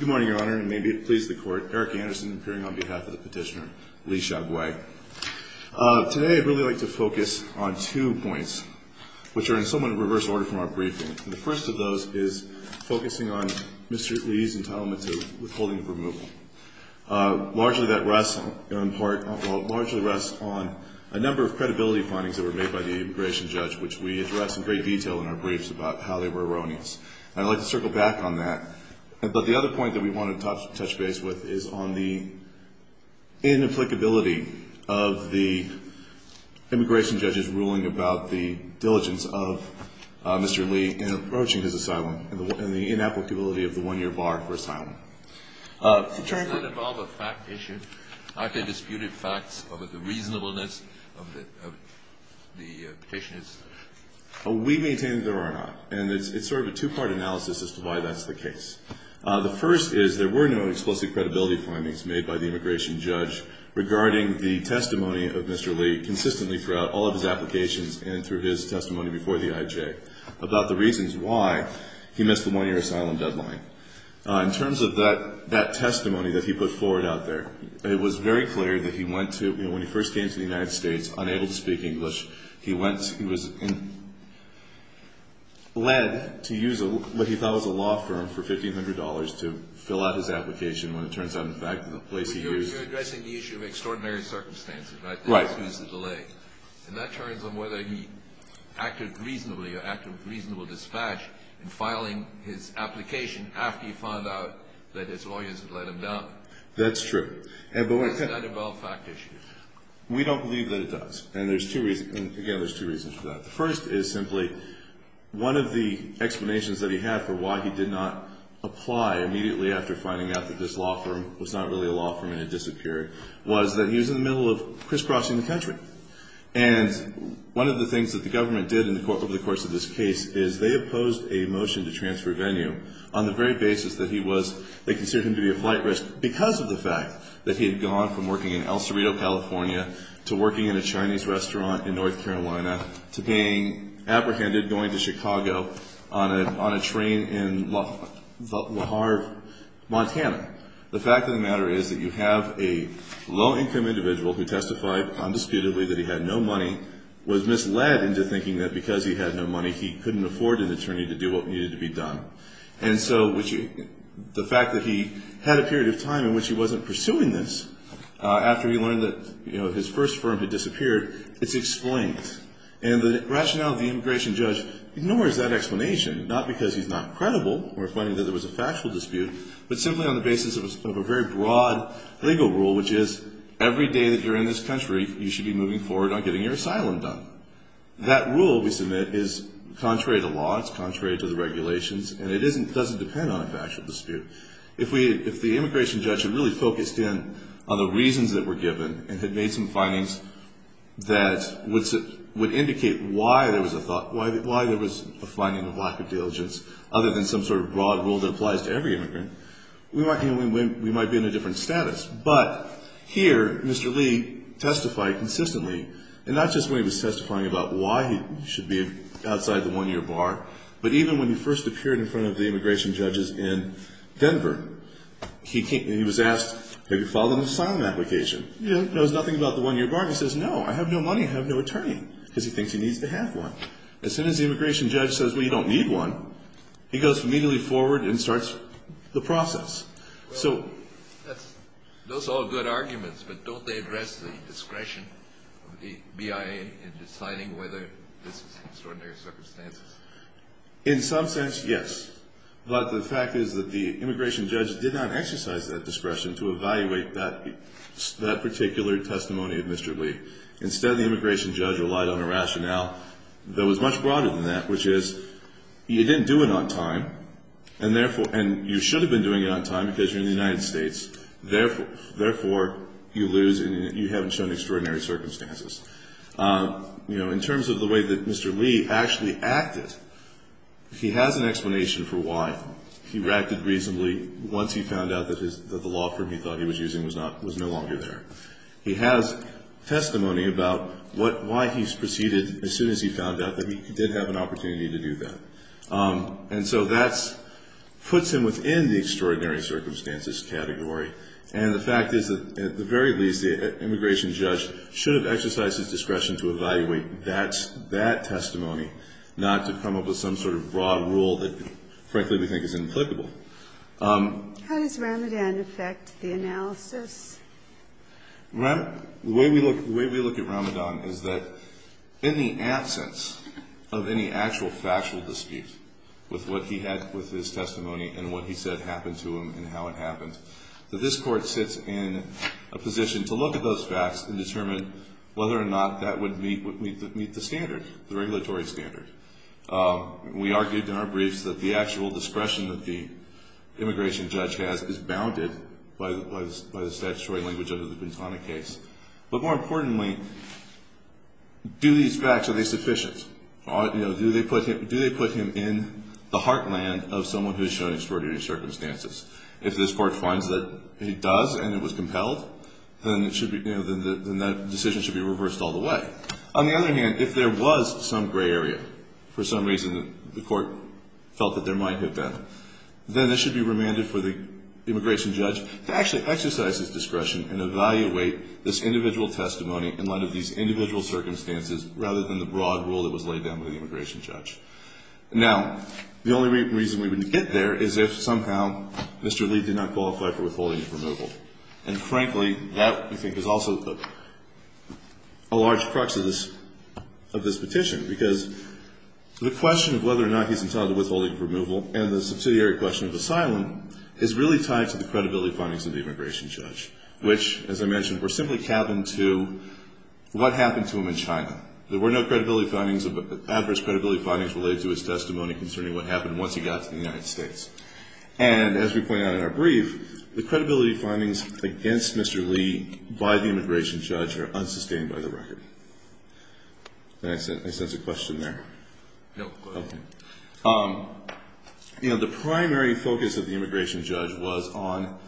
Good morning, Your Honor, and may it please the Court, Eric Anderson appearing on behalf of the Petitioner, Lee Shagway. Today I'd really like to focus on two points, which are in somewhat of a reverse order from our briefing. The first of those is focusing on Mr. Lee's entitlement to withholding of removal. Largely that rests on a number of credibility findings that were made by the immigration judge, which we address in great detail in our briefs about how they were erroneous. And I'd like to circle back on that. But the other point that we want to touch base with is on the inapplicability of the immigration judge's ruling about the diligence of Mr. Lee in approaching his asylum and the inapplicability of the one-year bar for asylum. Does that involve a fact issue? Have there been disputed facts about the reasonableness of the petitioners? We maintain that there are not. And it's sort of a two-part analysis as to why that's the case. The first is there were no explicit credibility findings made by the immigration judge regarding the testimony of Mr. Lee consistently throughout all of his applications and through his testimony before the IJ about the reasons why he missed the one-year asylum deadline. In terms of that testimony that he put forward out there, it was very clear that he went to, when he first came to the United States, unable to speak English. He was led to use what he thought was a law firm for $1,500 to fill out his application when it turns out, in fact, the place he used it. You're addressing the issue of extraordinary circumstances, right? Right. And that turns on whether he acted reasonably or acted with reasonable dispatch in filing his application after he found out that his lawyers had let him down. That's true. Does that involve fact issues? We don't believe that it does. And there's two reasons. Again, there's two reasons for that. The first is simply one of the explanations that he had for why he did not apply immediately after finding out that this law firm was not really a law firm and it disappeared was that he was in the middle of crisscrossing the country. And one of the things that the government did over the course of this case is they opposed a motion to transfer Venue on the very basis that he was, they considered him to be a flight risk because of the fact that he had gone from working in El Cerrito, California, to working in a Chinese restaurant in North Carolina, to being apprehended going to Chicago on a train in La Harve, Montana. The fact of the matter is that you have a low-income individual who testified undisputedly that he had no money, was misled into thinking that because he had no money he couldn't afford an attorney to do what needed to be done. And so the fact that he had a period of time in which he wasn't pursuing this after he learned that his first firm had disappeared, it's explained. And the rationale of the immigration judge ignores that explanation, not because he's not credible or finding that there was a factual dispute, but simply on the basis of a very broad legal rule, which is every day that you're in this country, you should be moving forward on getting your asylum done. That rule we submit is contrary to law, it's contrary to the regulations, and it doesn't depend on a factual dispute. If the immigration judge had really focused in on the reasons that were given, and had made some findings that would indicate why there was a finding of lack of diligence, other than some sort of broad rule that applies to every immigrant, we might be in a different status. But here, Mr. Lee testified consistently, and not just when he was testifying about why he should be outside the one-year bar, but even when he first appeared in front of the immigration judges in Denver. He was asked, have you filed an asylum application? He knows nothing about the one-year bar. He says, no, I have no money, I have no attorney, because he thinks he needs to have one. As soon as the immigration judge says, well, you don't need one, he goes immediately forward and starts the process. Those are all good arguments, but don't they address the discretion of the BIA in deciding whether this is extraordinary circumstances? In some sense, yes. But the fact is that the immigration judge did not exercise that discretion to evaluate that particular testimony of Mr. Lee. Instead, the immigration judge relied on a rationale that was much broader than that, which is, you didn't do it on time, and you should have been doing it on time because you're in the United States. Therefore, you lose and you haven't shown extraordinary circumstances. In terms of the way that Mr. Lee actually acted, he has an explanation for why. He reacted reasonably once he found out that the law firm he thought he was using was no longer there. He has testimony about what why he proceeded as soon as he found out that he did have an opportunity to do that. And so that puts him within the extraordinary circumstances category. And the fact is that, at the very least, the immigration judge should have exercised his discretion to evaluate that testimony, not to come up with some sort of broad rule that, frankly, we think is inapplicable. Ginsburg. How does Ramadan affect the analysis? The way we look at Ramadan is that in the absence of any actual factual dispute with what he had with his testimony and what he said happened to him and how it happened, that this Court sits in a position to look at those facts and determine whether or not that would meet the standard, the regulatory standard. We argued in our briefs that the actual discretion that the immigration judge has is bounded by the statutory language under the Bintana case. But more importantly, do these facts, are they sufficient? Do they put him in the heartland of someone who is showing extraordinary circumstances? If this Court finds that he does and it was compelled, then that decision should be reversed all the way. On the other hand, if there was some gray area, for some reason the Court felt that there might have been, then this should be remanded for the immigration judge to actually exercise his discretion and evaluate this individual testimony in light of these individual circumstances rather than the broad rule that was laid down by the immigration judge. Now, the only reason we wouldn't get there is if somehow Mr. Lee did not qualify for withholding his removal. And frankly, that, we think, is also a large crux of this petition. Because the question of whether or not he's entitled to withholding of removal and the subsidiary question of asylum is really tied to the credibility findings of the immigration judge, which, as I mentioned, were simply cabined to what happened to him in China. There were no credibility findings, adverse credibility findings, related to his testimony concerning what happened once he got to the United States. And as we point out in our brief, the credibility findings against Mr. Lee by the immigration judge are unsustained by the record. Did I miss a question there? No, go ahead. Okay. You know, the primary focus of the immigration judge was on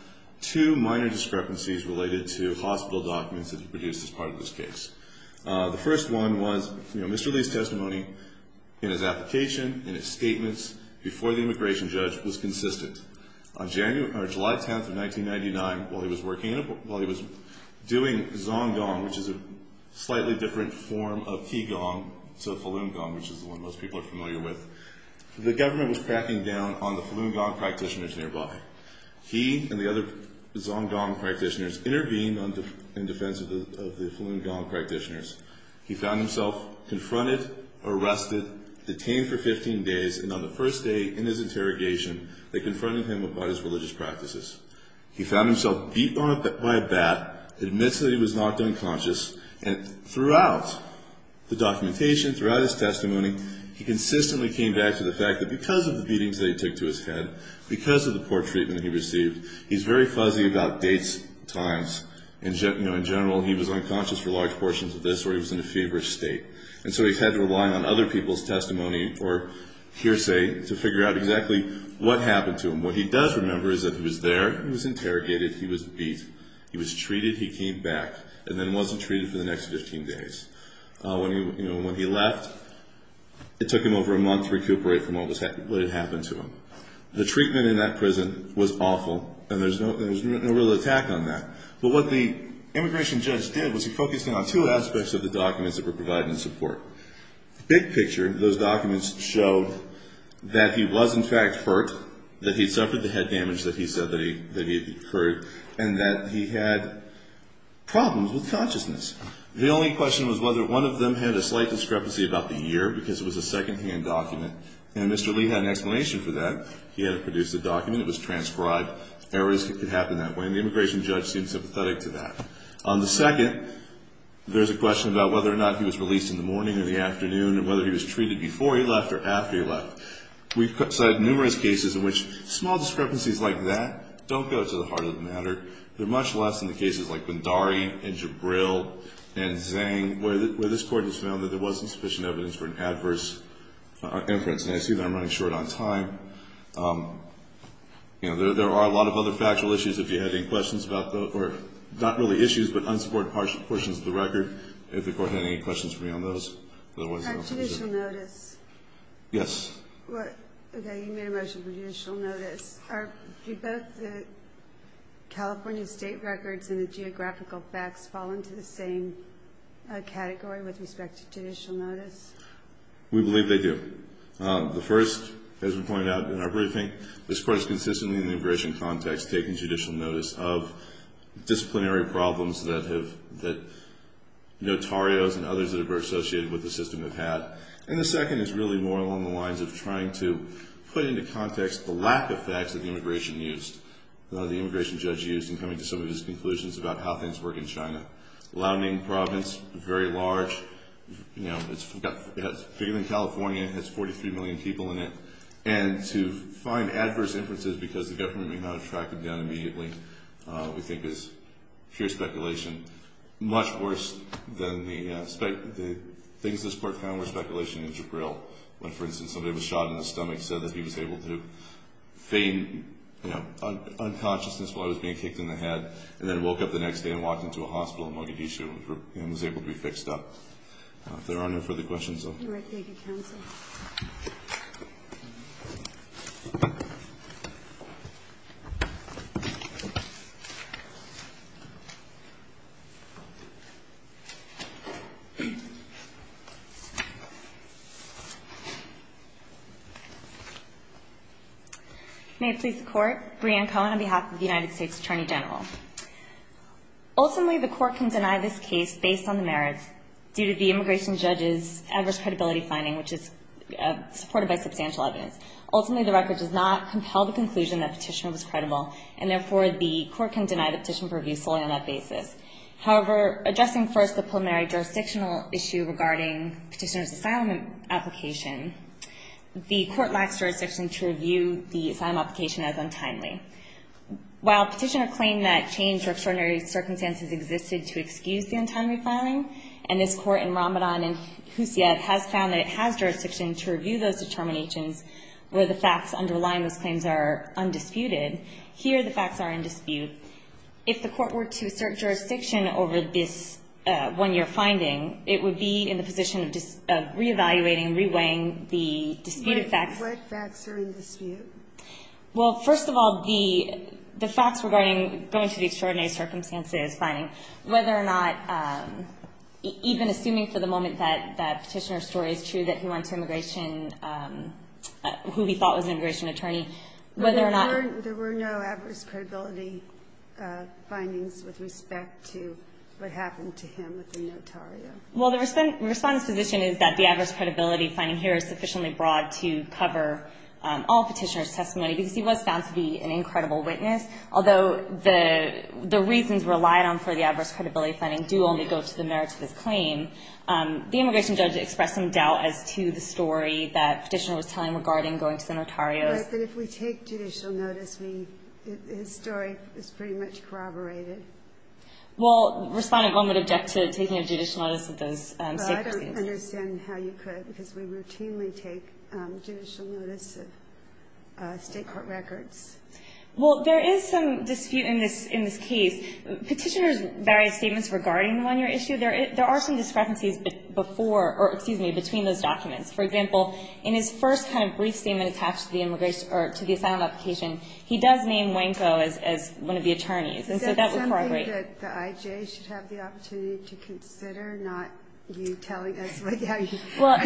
two minor discrepancies related to hospital documents that he produced as part of this case. The first one was, you know, Mr. Lee's testimony in his application, in his statements, before the immigration judge was consistent. On July 10th of 1999, while he was working, while he was doing zong gong, which is a slightly different form of qi gong to falun gong, which is the one most people are familiar with, the government was cracking down on the falun gong practitioners nearby. He and the other zong gong practitioners intervened in defense of the falun gong practitioners. He found himself confronted, arrested, detained for 15 days, and on the first day in his interrogation, they confronted him about his religious practices. He found himself beat by a bat, admits that he was knocked unconscious, and throughout the documentation, throughout his testimony, he consistently came back to the fact that because of the beatings that he took to his head, because of the poor treatment he received, he's very fuzzy about dates, times. In general, he was unconscious for large portions of this, or he was in a feverish state. And so he's had to rely on other people's testimony or hearsay to figure out exactly what happened to him. What he does remember is that he was there, he was interrogated, he was beat. He was treated, he came back, and then wasn't treated for the next 15 days. When he left, it took him over a month to recuperate from what had happened to him. The treatment in that prison was awful, and there was no real attack on that. But what the immigration judge did was he focused on two aspects of the documents that were provided in support. Big picture, those documents showed that he was, in fact, hurt, that he suffered the head damage that he said that he had incurred, and that he had problems with consciousness. The only question was whether one of them had a slight discrepancy about the year, because it was a secondhand document, and Mr. Lee had an explanation for that. He had produced a document, it was transcribed, errors could happen that way, and the immigration judge seemed sympathetic to that. On the second, there's a question about whether or not he was released in the morning or the afternoon, and whether he was treated before he left or after he left. We've cited numerous cases in which small discrepancies like that don't go to the heart of the matter. They're much less in the cases like Bhandari and Jabril and Zhang, where this Court has found that there wasn't sufficient evidence for an adverse inference. And I see that I'm running short on time. You know, there are a lot of other factual issues, if you have any questions about those, or not really issues, but unsupported portions of the record, if the Court had any questions for me on those. On judicial notice. Yes. Okay, you made a motion for judicial notice. Do both the California state records and the geographical facts fall into the same category with respect to judicial notice? We believe they do. The first, as we pointed out in our briefing, this Court is consistently in the immigration context taking judicial notice of disciplinary problems that notarios and others that are associated with the system have had. And the second is really more along the lines of trying to put into context the lack of facts that the immigration judge used in coming to some of his conclusions about how things work in China. Liaoning province, very large. It's bigger than California. It has 43 million people in it. And to find adverse inferences because the government may not have tracked it down immediately, we think is sheer speculation. Much worse than the things this Court found were speculation and jabril. When, for instance, somebody was shot in the stomach, said that he was able to feign, you know, unconsciousness while he was being kicked in the head, and then woke up the next day and walked into a hospital in Mogadishu and was able to be fixed up. If there are no further questions, though. All right, thank you, counsel. May it please the Court. Brianne Cohen on behalf of the United States Attorney General. Ultimately, the Court can deny this case based on the merits due to the immigration judge's adverse credibility finding, which is supported by substantial evidence. Ultimately, the record does not compel the conclusion that petitioner was credible, and therefore the Court can deny the petition for review solely on that basis. However, addressing first the preliminary jurisdictional issue regarding petitioner's asylum application, the Court lacks jurisdiction to review the asylum application as untimely. While petitioner claimed that change or extraordinary circumstances existed to excuse the untimely filing, and this Court in Ramadan and Hussein has found that it has jurisdiction to review those determinations where the facts underlying those claims are undisputed, here the facts are in dispute. If the Court were to assert jurisdiction over this one-year finding, it would be in the position of reevaluating, reweighing the disputed facts. What facts are in dispute? Well, first of all, the facts regarding going to the extraordinary circumstances finding, whether or not even assuming for the moment that that petitioner's story is true, that he went to immigration, who he thought was an immigration attorney, whether or not there were no adverse credibility findings with respect to what happened to him with the notario. Well, the Respondent's position is that the adverse credibility finding here is sufficiently broad to cover all Petitioner's testimony, because he was found to be an incredible witness, although the reasons relied on for the adverse credibility finding do only go to the merits of his claim. The immigration judge expressed some doubt as to the story that Petitioner was telling regarding going to the notario. Right, but if we take judicial notice, his story is pretty much corroborated. Well, Respondent, one would object to taking a judicial notice of those state court statements. I don't understand how you could, because we routinely take judicial notice of state court records. Well, there is some dispute in this case. Petitioner's various statements regarding the one-year issue, there are some discrepancies between those documents. For example, in his first kind of brief statement attached to the asylum application, he does name Wanko as one of the attorneys, and so that would corroborate. Is that something that the IJ should have the opportunity to consider, not you telling us what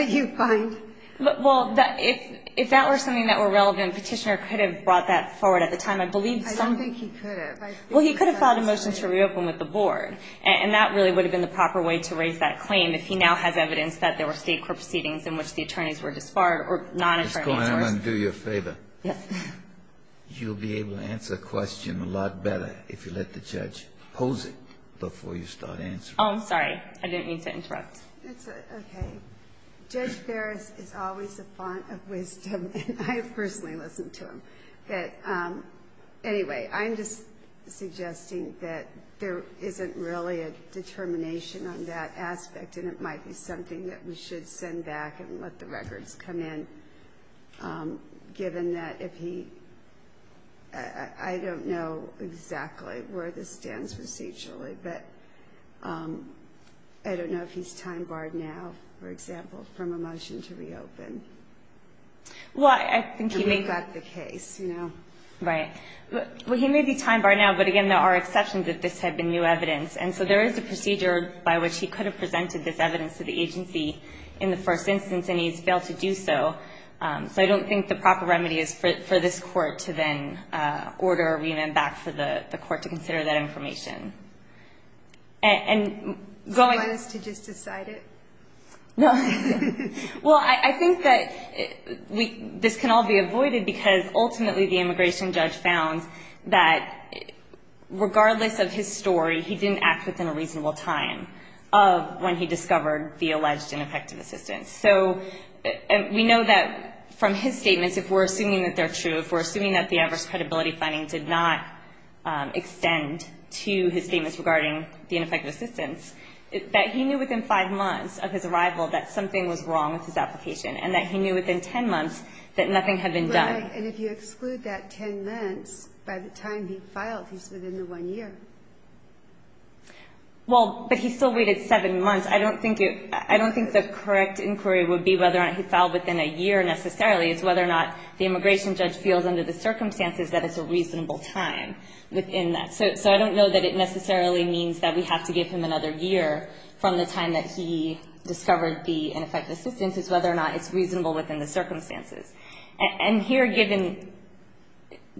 you find? Well, if that were something that were relevant, Petitioner could have brought that forward at the time. I don't think he could have. Well, he could have filed a motion to reopen with the Board, and that really would have been the proper way to raise that claim if he now has evidence that there were state court proceedings in which the attorneys were disbarred or non-attorneys were disbarred. Ms. Cohen, I'm going to do you a favor. Yes. You'll be able to answer the question a lot better if you let the judge pose it before you start answering. Oh, I'm sorry. I didn't mean to interrupt. It's okay. Judge Ferris is always a font of wisdom, and I personally listen to him. Anyway, I'm just suggesting that there isn't really a determination on that aspect, and it might be something that we should send back and let the records come in, given that if he – I don't know exactly where this stands procedurally, but I don't know if he's time-barred now, for example, from a motion to reopen. Well, I think he may – To make up the case, you know. Right. Well, he may be time-barred now, but, again, there are exceptions that this had been new evidence. And so there is a procedure by which he could have presented this evidence to the agency in the first instance, and he's failed to do so. So I don't think the proper remedy is for this court to then order a remand back for the court to consider that information. And going – So I guess to just decide it? Well, I think that this can all be avoided, because ultimately the immigration judge found that regardless of his story, he didn't act within a reasonable time of when he discovered the alleged ineffective assistance. So we know that from his statements, if we're assuming that they're true, if we're assuming that the adverse credibility findings did not extend to his statements regarding the ineffective assistance, that he knew within five months of his arrival that something was wrong with his application and that he knew within 10 months that nothing had been done. Right. And if you exclude that 10 months, by the time he filed, he's within the one year. Well, but he still waited seven months. I don't think it – I don't think the correct inquiry would be whether he filed within a year necessarily. It's whether or not the immigration judge feels under the circumstances that it's a reasonable time within that. So I don't know that it necessarily means that we have to give him another year from the time that he discovered the ineffective assistance. It's whether or not it's reasonable within the circumstances. And here, given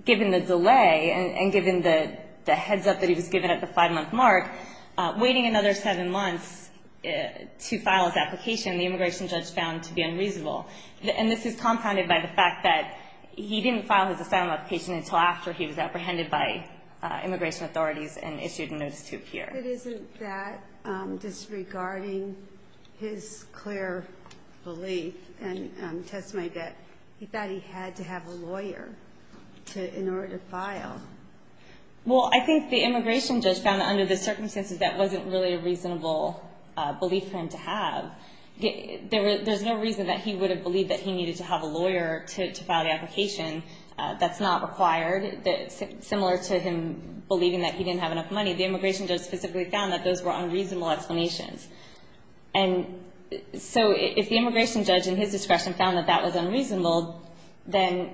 the delay and given the heads-up that he was given at the five-month mark, waiting another seven months to file his application, the immigration judge found to be unreasonable. And this is compounded by the fact that he didn't file his asylum application until after he was apprehended by immigration authorities and issued a notice to appear. But isn't that disregarding his clear belief and testimony that he thought he had to have a lawyer in order to file? Well, I think the immigration judge found that under the circumstances that wasn't really a reasonable belief for him to have. There's no reason that he would have believed that he needed to have a lawyer to file the application. That's not required. Similar to him believing that he didn't have enough money, the immigration judge specifically found that those were unreasonable explanations. And so if the immigration judge in his discretion found that that was unreasonable, then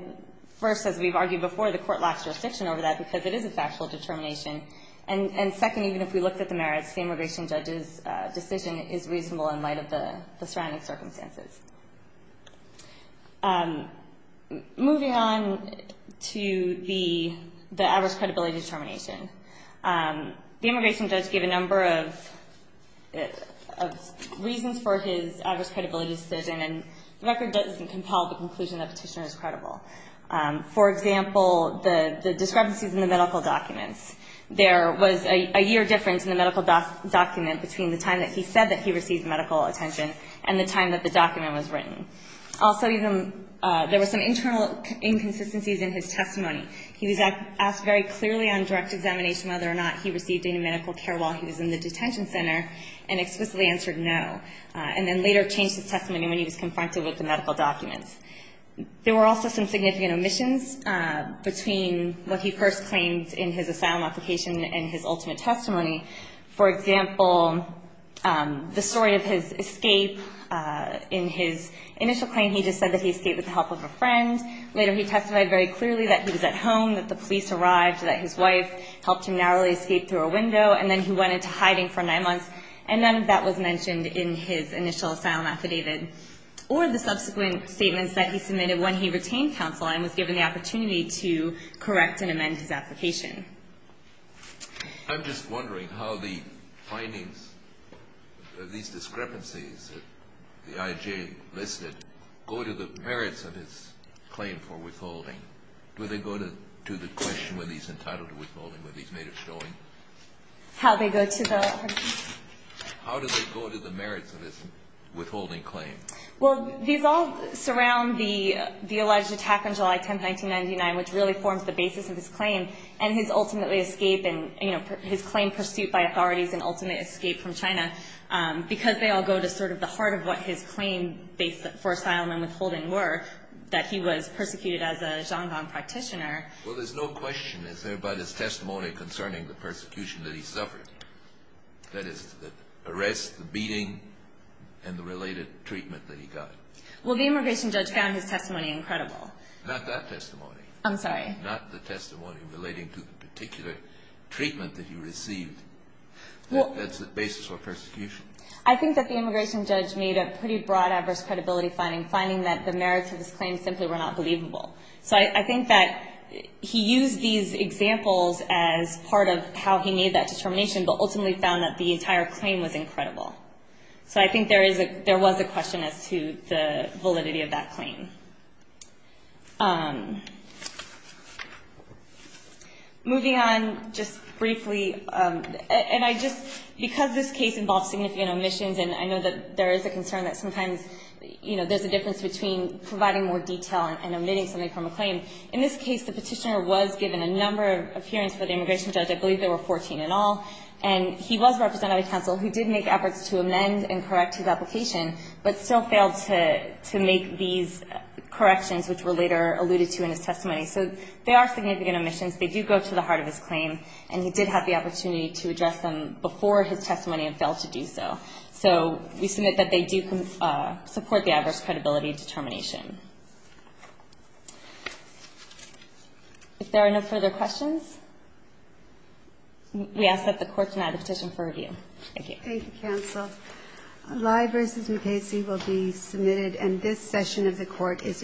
first, as we've argued before, the Court lacks jurisdiction over that because it is a factual determination. And second, even if we looked at the merits, the immigration judge's decision is reasonable in light of the surrounding circumstances. Moving on to the average credibility determination. The immigration judge gave a number of reasons for his average credibility decision, and the record doesn't compel the conclusion that a petitioner is credible. For example, the discrepancies in the medical documents. There was a year difference in the medical document between the time that he said that he received medical attention and the time that the document was written. Also, there was some internal inconsistencies in his testimony. He was asked very clearly on direct examination whether or not he received any medical care while he was in the detention center and explicitly answered no, and then later changed his testimony when he was confronted with the medical documents. There were also some significant omissions between what he first claimed in his asylum application and his ultimate testimony. For example, the story of his escape. In his initial claim, he just said that he escaped with the help of a friend. Later, he testified very clearly that he was at home, that the police arrived, that his wife helped him narrowly escape through a window, and then he went into hiding for nine months, and none of that was mentioned in his initial asylum affidavit. Or the subsequent statements that he submitted when he retained counsel and was given the opportunity to correct and amend his application. I'm just wondering how the findings of these discrepancies, the IJ listed, go to the merits of his claim for withholding. Do they go to the question when he's entitled to withholding, when he's made a showing? How they go to the... How do they go to the merits of his withholding claim? Well, these all surround the alleged attack on July 10, 1999, which really forms the basis of his claim and his claim pursued by authorities and ultimate escape from China, because they all go to sort of the heart of what his claim for asylum and withholding were, that he was persecuted as a Xiongnong practitioner. Well, there's no question, is there, about his testimony concerning the persecution that he suffered? That is, the arrest, the beating, and the related treatment that he got. Well, the immigration judge found his testimony incredible. Not that testimony. I'm sorry. Not the testimony relating to the particular treatment that he received. That's the basis for persecution. I think that the immigration judge made a pretty broad adverse credibility finding, finding that the merits of his claim simply were not believable. So I think that he used these examples as part of how he made that determination, but ultimately found that the entire claim was incredible. So I think there was a question as to the validity of that claim. Moving on just briefly, and I just, because this case involves significant omissions, and I know that there is a concern that sometimes, you know, there's a difference between providing more detail and omitting something from a claim. In this case, the Petitioner was given a number of hearings for the immigration judge. I believe there were 14 in all. And he was represented by counsel who did make efforts to amend and correct his application, but still failed to make these corrections, which were later alluded to in his testimony. So there are significant omissions. They do go to the heart of his claim, and he did have the opportunity to address them before his testimony and failed to do so. So we submit that they do support the adverse credibility determination. If there are no further questions, we ask that the Court deny the petition for review. Thank you. Thank you, counsel. Lye v. Mukasey will be submitted, and this session of the Court is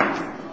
adjourned.